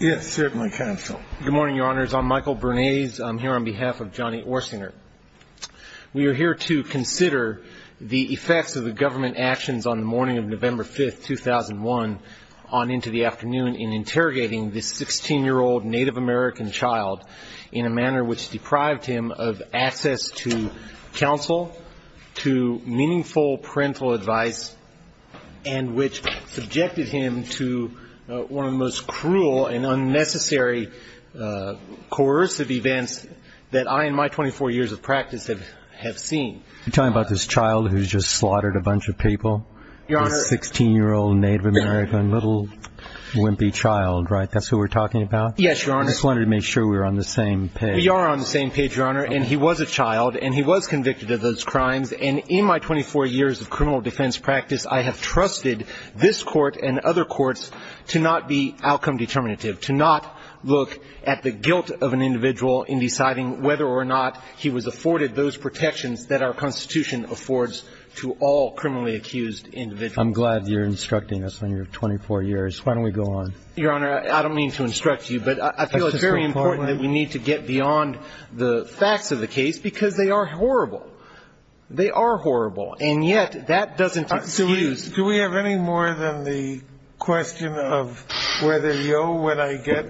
Yes, certainly, Counsel. Good morning, Your Honors. I'm Michael Bernays. I'm here on behalf of Johnny Orsinger. We are here to consider the effects of the government actions on the morning of November 5, 2001, on into the afternoon in interrogating this 16-year-old Native American child in a manner which deprived him of access to counsel, to meaningful parental advice, and which subjected him to one of the most cruel and unnecessary coercive events that I in my 24 years of practice have seen. You're talking about this child who's just slaughtered a bunch of people, this 16-year-old Native American little wimpy child, right? That's who we're talking about? Yes, Your Honor. I just wanted to make sure we were on the same page. We are on the same page, Your Honor, and he was a child, and he was convicted of those crimes, and in my 24 years of criminal defense practice, I have trusted this Court and other courts to not be outcome determinative, to not look at the guilt of an individual in deciding whether or not he was afforded those protections that our Constitution affords to all criminally accused individuals. I'm glad you're instructing us on your 24 years. Why don't we go on? Your Honor, I don't mean to instruct you, but I feel it's very important that we need to get beyond the facts of the case, because they are horrible. They are horrible, and yet that doesn't excuse you. Do we have any more than the question of whether, yo, when I get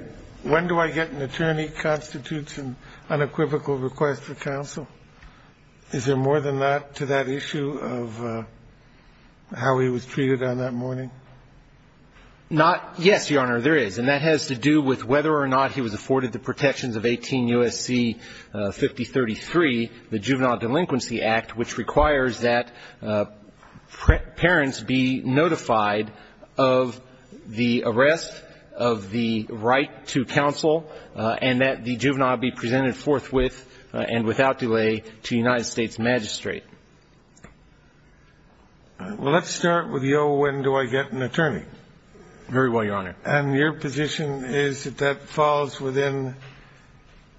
an attorney constitutes an unequivocal request for counsel? Is there more than that to that issue of how he was treated on that morning? Yes, Your Honor, there is, and that has to do with whether or not he was afforded the protections of 18 U.S.C. 5033, the Juvenile Delinquency Act, which requires that parents be notified of the arrest, of the right to counsel, and that the juvenile be presented forthwith and without delay to the United States magistrate. Well, let's start with, yo, when do I get an attorney? Very well, Your Honor. And your position is that that falls within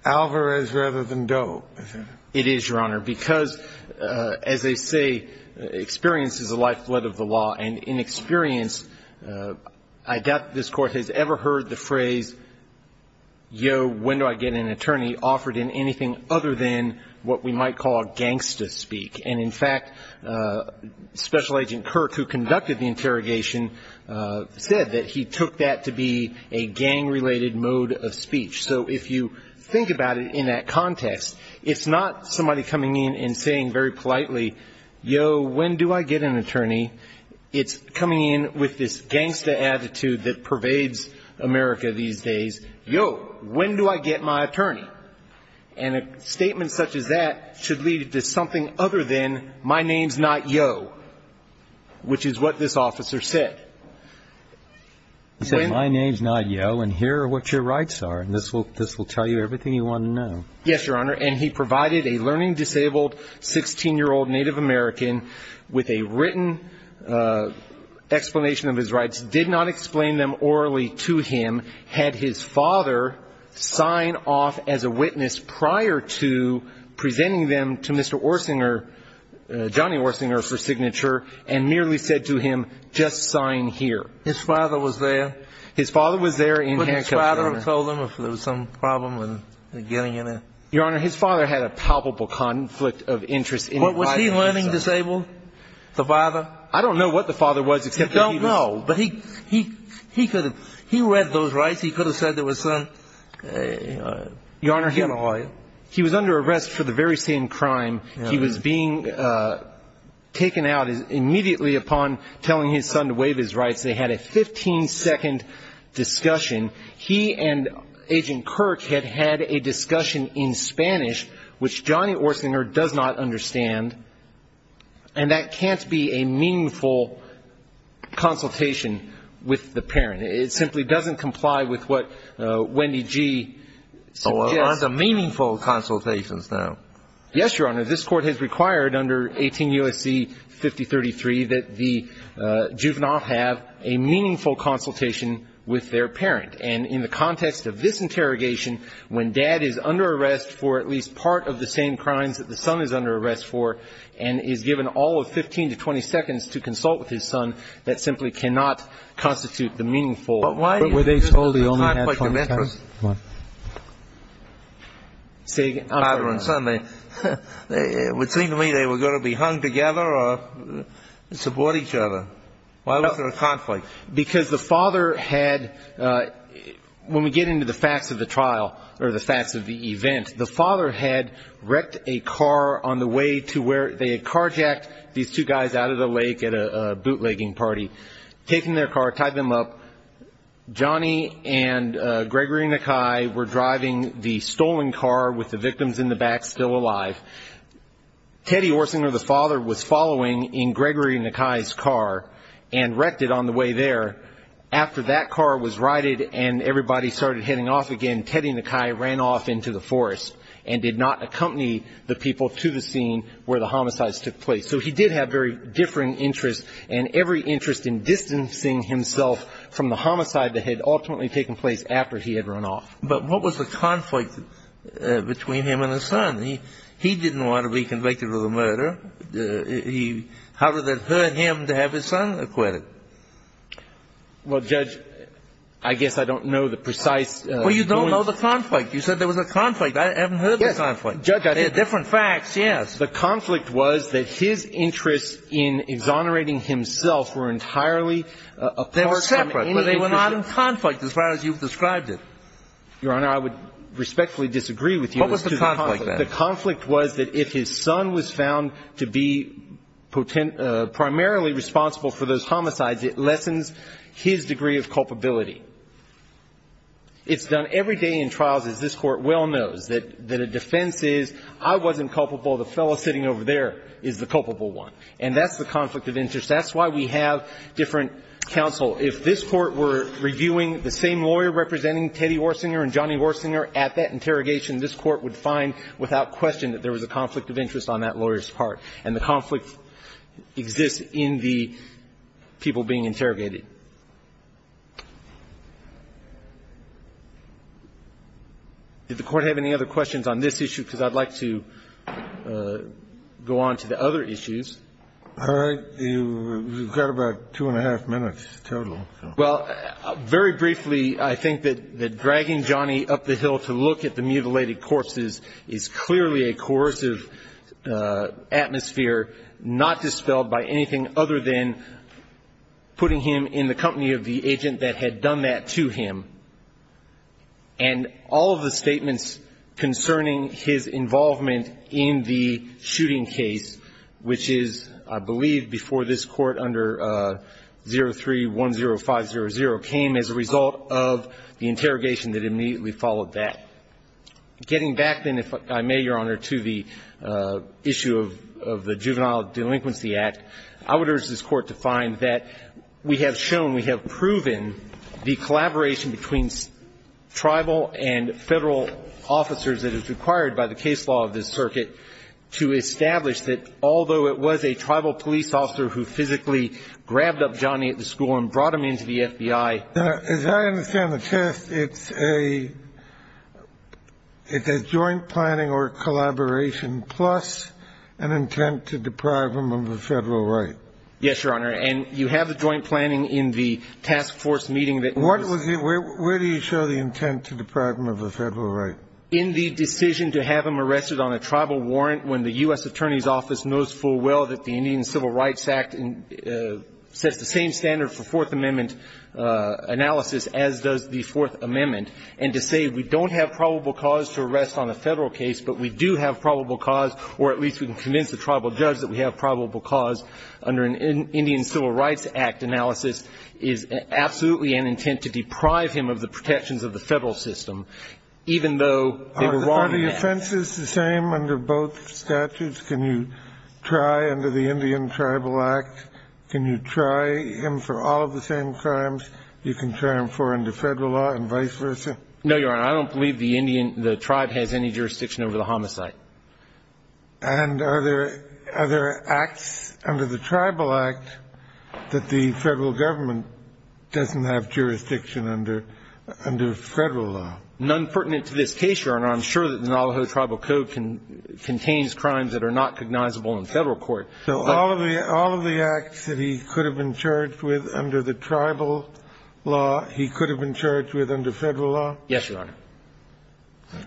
Alvarez rather than Doe, is it? It is, Your Honor, because, as they say, experience is the lifeblood of the law, and in experience, I doubt that this Court has ever heard the phrase, yo, when do I get an attorney, offered in anything other than what we might call gangsta speak. And, in fact, Special Agent Kirk, who conducted the interrogation, said that he took that to be a gang-related mode of speech. So if you think about it in that context, it's not somebody coming in and saying very politely, yo, when do I get an attorney? It's coming in with this gangsta attitude that pervades America these days, yo, when do I get my attorney? And a statement such as that should lead to something other than my name's not yo, which is what this officer said. He said, my name's not yo, and here are what your rights are, and this will tell you everything you want to know. Yes, Your Honor, and he provided a learning disabled 16-year-old Native American with a written explanation of his rights, did not explain them orally to him, had his father sign off as a witness prior to presenting them to Mr. Orsinger, Johnny Orsinger, for signature, and merely said to him, just sign here. His father was there? His father was there in handcuffs, Your Honor. Would his father have told him if there was some problem with getting in there? Your Honor, his father had a palpable conflict of interest. Was he a learning disabled, the father? I don't know what the father was, except that he was. You don't know, but he could have. He read those rights. He could have said there was some, you know. Your Honor, he was under arrest for the very same crime. He was being taken out immediately upon telling his son to waive his rights. They had a 15-second discussion. He and Agent Kirk had had a discussion in Spanish, which Johnny Orsinger does not understand, and that can't be a meaningful consultation with the parent. It simply doesn't comply with what Wendy Gee suggests. Oh, well, aren't they meaningful consultations now? Yes, Your Honor. This Court has required under 18 U.S.C. 5033 that the juvenile have a meaningful consultation with their parent. And in the context of this interrogation, when dad is under arrest for at least part of the same crimes that the son is under arrest for and is given all of 15 to 20 seconds to consult with his son, that simply cannot constitute the meaningful. But why is this a conflict of interest? Father and son, it would seem to me they were going to be hung together or support each other. Why was there a conflict? Because the father had, when we get into the facts of the trial or the facts of the event, the father had wrecked a car on the way to where they had carjacked these two guys out of the lake at a bootlegging party, taken their car, tied them up. Johnny and Gregory Nakai were driving the stolen car with the victims in the back still alive. Teddy Orsinger, the father, was following in Gregory Nakai's car and wrecked it on the way there. After that car was righted and everybody started heading off again, Teddy Nakai ran off into the forest and did not accompany the people to the scene where the homicides took place. So he did have very differing interests and every interest in distancing himself from the homicide that had ultimately taken place after he had run off. But what was the conflict between him and his son? He didn't want to be convicted of the murder. How did that hurt him to have his son acquitted? Well, Judge, I guess I don't know the precise point. Well, you don't know the conflict. You said there was a conflict. I haven't heard the conflict. Yes, Judge, I did. There are different facts, yes. The conflict was that his interests in exonerating himself were entirely apart from any of his interests. They were separate, but they were not in conflict as far as you've described it. Your Honor, I would respectfully disagree with you as to the conflict. What was the conflict, then? The conflict was that if his son was found to be primarily responsible for those homicides, it lessens his degree of culpability. It's done every day in trials, as this Court well knows, that a defense is, I wasn't culpable, the fellow sitting over there is the culpable one. And that's the conflict of interest. That's why we have different counsel. If this Court were reviewing the same lawyer representing Teddy Orsinger and Johnny Orsinger at that interrogation, this Court would find without question that there was a conflict of interest on that lawyer's part. And the conflict exists in the people being interrogated. Did the Court have any other questions on this issue? Because I'd like to go on to the other issues. All right. You've got about two and a half minutes total. Well, very briefly, I think that dragging Johnny up the hill to look at the mutilated corpses is clearly a coercive atmosphere not dispelled by anything other than putting him in the company of the agent that had done that to him. And all of the statements concerning his involvement in the shooting case, which is, I believe, before this Court under 03-10500, came as a result of the interrogation that immediately followed that. Getting back then, if I may, Your Honor, to the issue of the Juvenile Delinquency Act, I would urge this Court to find that we have shown, we have proven the collaboration between tribal and Federal officers that is required by the case law of this circuit to establish that although it was a tribal police officer who physically grabbed up Johnny at the school and brought him into the FBI. As I understand the test, it's a joint planning or collaboration plus an intent to deprive him of a Federal right. Yes, Your Honor. And you have the joint planning in the task force meeting that was the --- Where do you show the intent to deprive him of a Federal right? In the decision to have him arrested on a tribal warrant when the U.S. Attorney's Office knows full well that the Indian Civil Rights Act sets the same standard for Fourth Amendment analysis as does the Fourth Amendment, and to say we don't have probable cause to arrest on a Federal case, but we do have probable cause, or at least we can convince the tribal judge that we have probable cause under an Indian Civil Rights Act analysis is absolutely an intent to deprive him of the protections of the Federal system, even though they were wrong in that. Are the offenses the same under both statutes? Can you try under the Indian Tribal Act, can you try him for all of the same crimes you can try him for under Federal law and vice versa? No, Your Honor. I don't believe the tribe has any jurisdiction over the homicide. And are there acts under the Tribal Act that the Federal Government doesn't have jurisdiction under Federal law? None pertinent to this case, Your Honor. I'm sure that the Noliho Tribal Code contains crimes that are not recognizable in Federal court. So all of the acts that he could have been charged with under the Tribal law he could have been charged with under Federal law? Yes, Your Honor.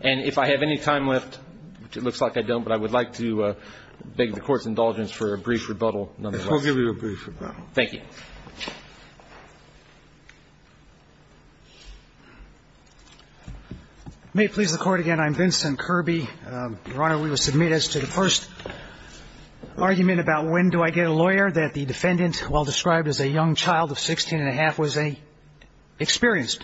And if I have any time left, which it looks like I don't, but I would like to beg the Court's indulgence for a brief rebuttal nonetheless. I'll give you a brief rebuttal. Thank you. May it please the Court again, I'm Vincent Kirby. Your Honor, we will submit as to the first argument about when do I get a lawyer, that the defendant, while described as a young child of 16 and a half, was an experienced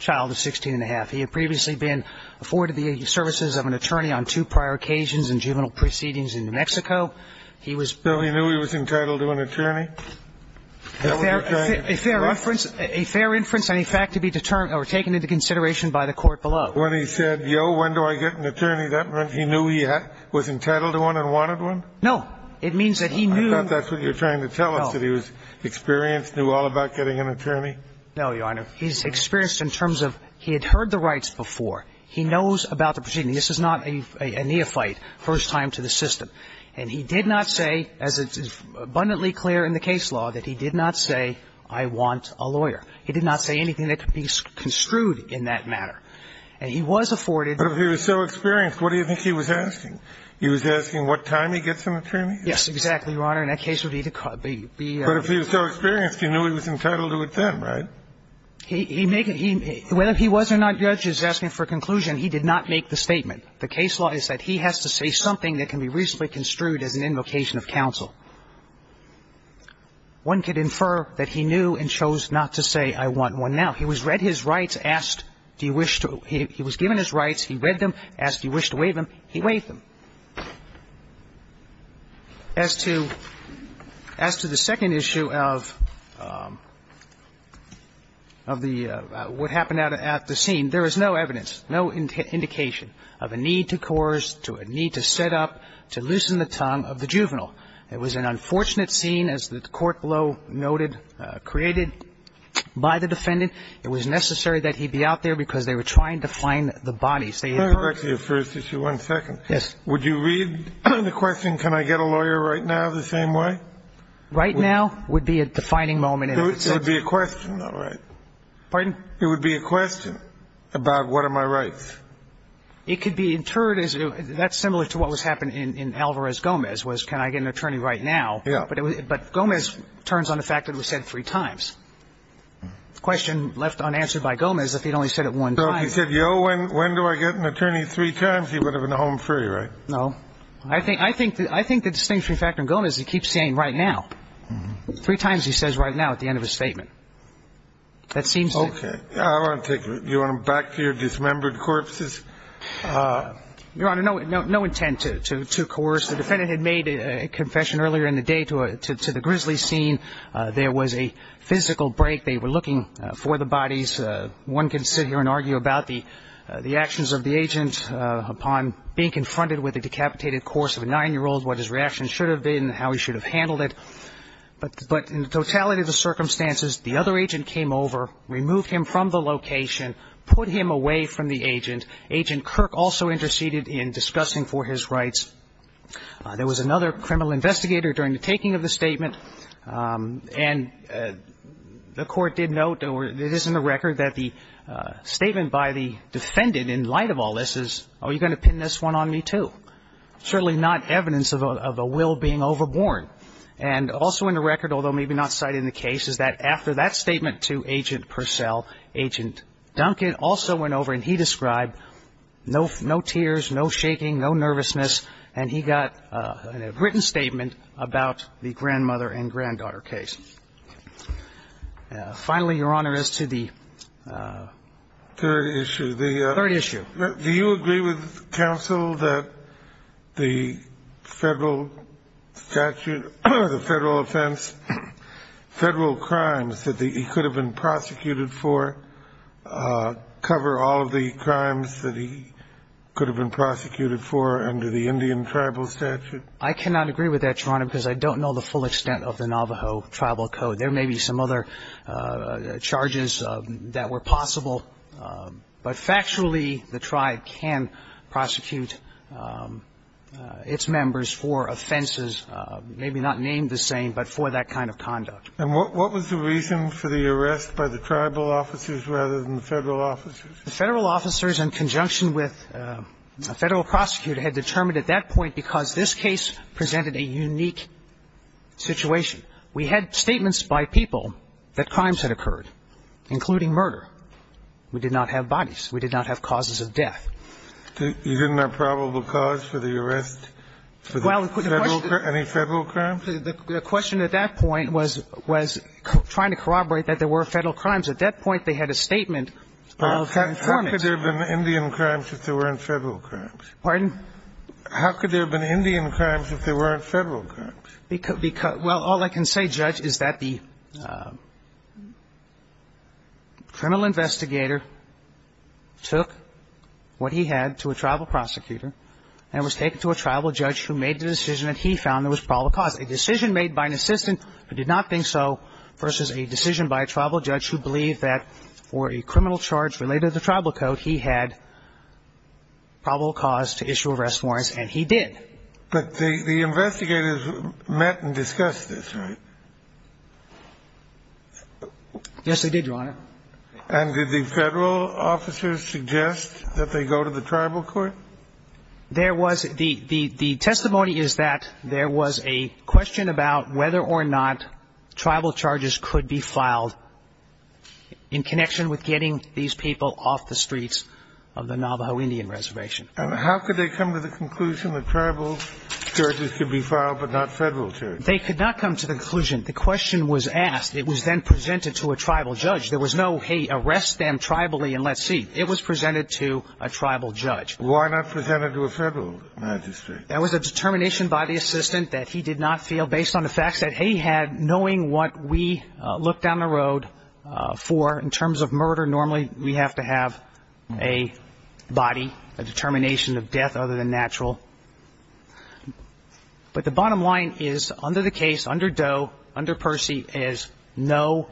child of 16 and a half. He had previously been afforded the services of an attorney on two prior occasions in juvenile proceedings in New Mexico. He was ---- So he knew he was entitled to an attorney? A fair reference, a fair inference and a fact to be determined or taken into consideration by the Court below. When he said, yo, when do I get an attorney, that meant he knew he was entitled to one and wanted one? No. It means that he knew ---- I thought that's what you're trying to tell us, that he was experienced, knew all about getting an attorney. No, Your Honor. He's experienced in terms of he had heard the rights before. He knows about the proceedings. This is not a neophyte, first time to the system. And he did not say, as is abundantly clear in the case law, that he did not say, I want a lawyer. He did not say anything that could be construed in that matter. And he was afforded ---- But if he was so experienced, what do you think he was asking? He was asking what time he gets an attorney? Yes, exactly, Your Honor. And that case would be the ---- But if he was so experienced, he knew he was entitled to it then, right? He make it ---- whether he was or not, the judge is asking for a conclusion. He did not make the statement. The case law is that he has to say something that can be reasonably construed as an invocation of counsel. One could infer that he knew and chose not to say, I want one now. He was read his rights, asked, do you wish to ---- he was given his rights, he read them, asked, do you wish to waive them, he waived them. As to the second issue of the ---- what happened at the scene, there is no evidence, no indication of a need to coerce, to a need to set up, to loosen the tongue of the juvenile. It was an unfortunate scene, as the court below noted, created by the defendant. It was necessary that he be out there because they were trying to find the bodies. They had ---- The first issue, one second. Yes. Would you read the question, can I get a lawyer right now, the same way? Right now would be a defining moment. It would be a question, all right. Pardon? It would be a question about what are my rights. It could be interred as a ---- that's similar to what was happening in Alvarez-Gomez was can I get an attorney right now. Yeah. But Gomez turns on the fact that it was said three times. The question left unanswered by Gomez if he'd only said it one time. So if he said, yo, when do I get an attorney, three times, he would have been home free, right? No. I think the distinguishing factor in Gomez is he keeps saying right now. Three times he says right now at the end of his statement. That seems to ---- Okay. I want to take you back to your dismembered corpses. Your Honor, no intent to coerce. The defendant had made a confession earlier in the day to the grizzly scene. There was a physical break. They were looking for the bodies. One can sit here and argue about the actions of the agent upon being confronted with the decapitated corpse of a 9-year-old, what his reaction should have been, how he should have handled it. But in the totality of the circumstances, the other agent came over, removed him from the location, put him away from the agent. Agent Kirk also interceded in discussing for his rights. There was another criminal investigator during the taking of the statement. And the court did note or it is in the record that the statement by the defendant in light of all this is, oh, you're going to pin this one on me, too. Certainly not evidence of a will being overborne. And also in the record, although maybe not cited in the case, is that after that statement to Agent Purcell, Agent Duncan also went over and he described no tears, no shaking, no nervousness. And he got a written statement about the grandmother and granddaughter case. Finally, Your Honor, as to the third issue. The third issue. Do you agree with counsel that the Federal statute, the Federal offense, Federal crimes that he could have been prosecuted for cover all of the crimes that he could have been I cannot agree with that, Your Honor, because I don't know the full extent of the Navajo tribal code. There may be some other charges that were possible. But factually, the tribe can prosecute its members for offenses, maybe not named the same, but for that kind of conduct. And what was the reason for the arrest by the tribal officers rather than the Federal officers? The Federal officers in conjunction with the Federal prosecutor had determined at that point because this case presented a unique situation. We had statements by people that crimes had occurred, including murder. We did not have bodies. We did not have causes of death. You didn't have probable cause for the arrest? Any Federal crimes? The question at that point was trying to corroborate that there were Federal crimes. At that point, they had a statement of conformance. But how could there have been Indian crimes if there weren't Federal crimes? Pardon? How could there have been Indian crimes if there weren't Federal crimes? Well, all I can say, Judge, is that the criminal investigator took what he had to a tribal prosecutor and was taken to a tribal judge who made the decision that he found there was probable cause, a decision made by an assistant who did not think so versus a decision by a tribal judge who believed that for a criminal charge related to the tribal code, he had probable cause to issue arrest warrants, and he did. But the investigators met and discussed this, right? Yes, they did, Your Honor. And did the Federal officers suggest that they go to the tribal court? There was the testimony is that there was a question about whether or not tribal charges could be filed in connection with getting these people off the streets of the Navajo Indian Reservation. And how could they come to the conclusion that tribal charges could be filed but not Federal charges? They could not come to the conclusion. The question was asked. It was then presented to a tribal judge. There was no, hey, arrest them tribally and let's see. It was presented to a tribal judge. Why not present it to a Federal magistrate? There was a determination by the assistant that he did not feel, based on the facts that he had, knowing what we look down the road for in terms of murder. Normally we have to have a body, a determination of death other than natural. But the bottom line is, under the case, under Doe, under Percy, is no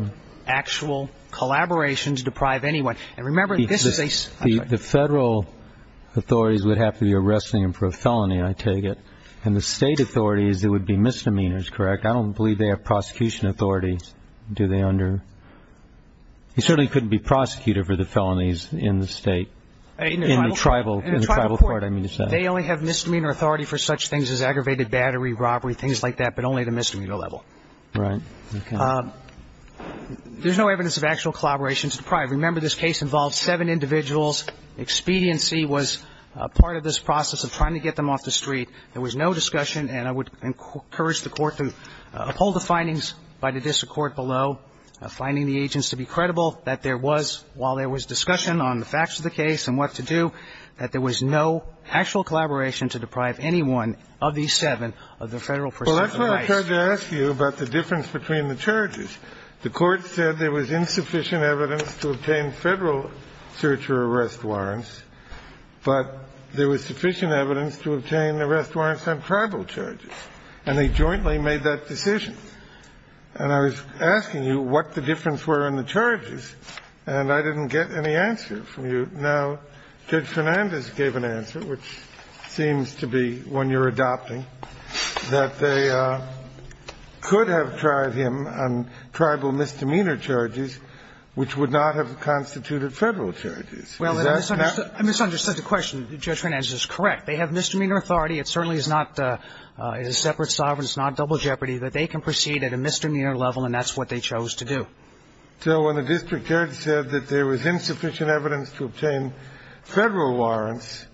actual collaboration to deprive anyone. And remember, this is a ---- The Federal authorities would have to be arresting him for a felony, I take it. And the State authorities, it would be misdemeanors, correct? I don't believe they have prosecution authority. Do they under ---- He certainly couldn't be prosecuted for the felonies in the State. In the tribal court, I mean to say. They only have misdemeanor authority for such things as aggravated battery, robbery, things like that, but only at a misdemeanor level. Right. Okay. There's no evidence of actual collaboration to deprive. Remember, this case involved seven individuals. Expediency was part of this process of trying to get them off the street. There was no discussion, and I would encourage the Court to uphold the findings by the district court below, finding the agents to be credible, that there was, while there was discussion on the facts of the case and what to do, that there was no actual collaboration to deprive anyone of these seven of the Federal percent of the rights. Well, that's why I tried to ask you about the difference between the charges. The Court said there was insufficient evidence to obtain Federal search or arrest warrants, but there was sufficient evidence to obtain arrest warrants on tribal charges, and they jointly made that decision. And I was asking you what the difference were in the charges, and I didn't get any answer from you. Now, Judge Fernandez gave an answer, which seems to be, when you're adopting, that they could have tried him on tribal misdemeanor charges, which would not have constituted Federal charges. Is that correct? Well, I misunderstood the question. Judge Fernandez is correct. They have misdemeanor authority. It certainly is not a separate sovereign. It's not double jeopardy that they can proceed at a misdemeanor level, and that's what they chose to do. So when the district judge said that there was insufficient evidence to obtain Federal warrants,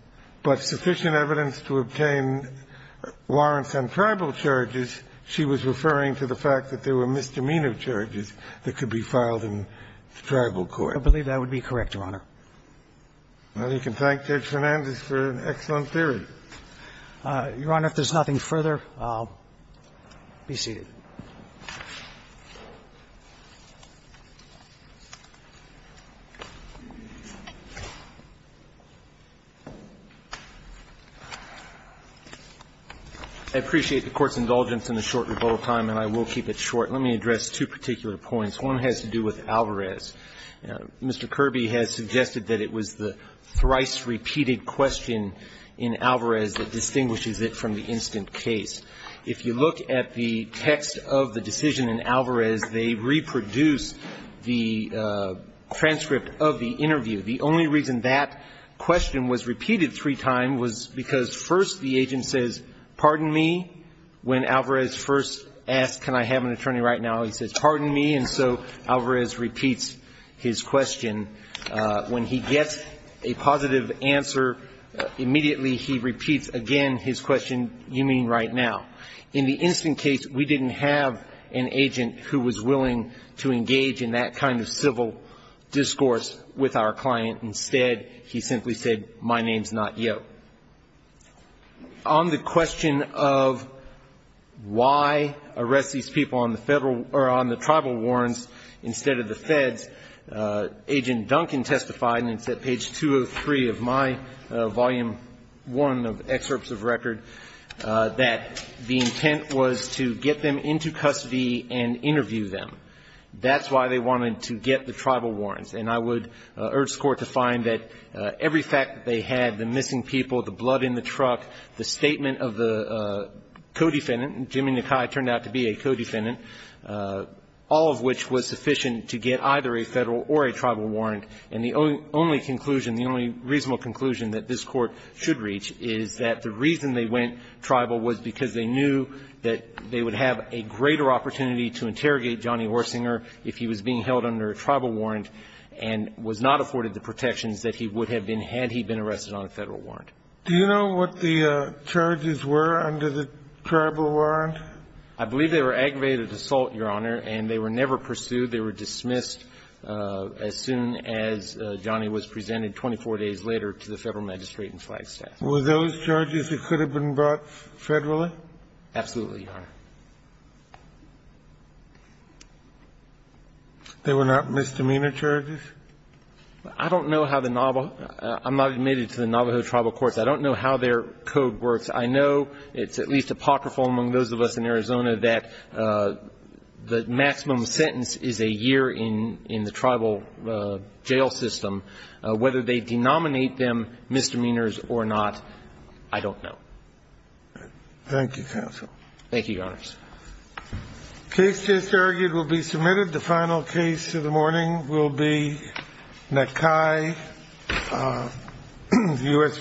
but sufficient evidence to obtain warrants on tribal charges, she was referring to the fact that there were misdemeanor charges that could be filed in tribal court. I believe that would be correct, Your Honor. Well, you can thank Judge Fernandez for an excellent theory. Your Honor, if there's nothing further, I'll be seated. I appreciate the Court's indulgence in a short rebuttal time, and I will keep it short. Let me address two particular points. One has to do with Alvarez. Mr. Kirby has suggested that it was the thrice-repeated question in Alvarez that distinguishes it from the instant case. If you look at the text of the decision in Alvarez, they reproduce the transcript of the interview. The only reason that question was repeated three times was because, first, the agent says, pardon me. When Alvarez first asks, can I have an attorney right now, he says, pardon me. And so Alvarez repeats his question. When he gets a positive answer, immediately he repeats again his question, you mean right now. In the instant case, we didn't have an agent who was willing to engage in that kind of civil discourse with our client. Instead, he simply said, my name's not Yo. So on the question of why arrest these people on the Federal or on the Tribal warrants instead of the Feds, Agent Duncan testified, and it's at page 203 of my volume 1 of excerpts of record, that the intent was to get them into custody and interview them. That's why they wanted to get the Tribal warrants. And I would urge the Court to find that every fact that they had, the missing people, the blood in the truck, the statement of the co-defendant, and Jimmy Nakai turned out to be a co-defendant, all of which was sufficient to get either a Federal or a Tribal warrant. And the only conclusion, the only reasonable conclusion that this Court should reach is that the reason they went Tribal was because they knew that they would have a greater opportunity to interrogate Johnny Orsinger if he was being held under a Tribal warrant and was not afforded the protections that he would have been had he been arrested on a Federal warrant. Do you know what the charges were under the Tribal warrant? I believe they were aggravated assault, Your Honor, and they were never pursued. They were dismissed as soon as Johnny was presented 24 days later to the Federal magistrate in Flagstaff. Were those charges that could have been brought Federally? Absolutely, Your Honor. They were not misdemeanor charges? I don't know how the Navajo – I'm not admitted to the Navajo Tribal Courts. I don't know how their code works. I know it's at least apocryphal among those of us in Arizona that the maximum sentence is a year in the Tribal jail system. Whether they denominate them misdemeanors or not, I don't know. Thank you, counsel. Thank you, Your Honors. The case just argued will be submitted. The final case of the morning will be McKay, U.S. v. McKay.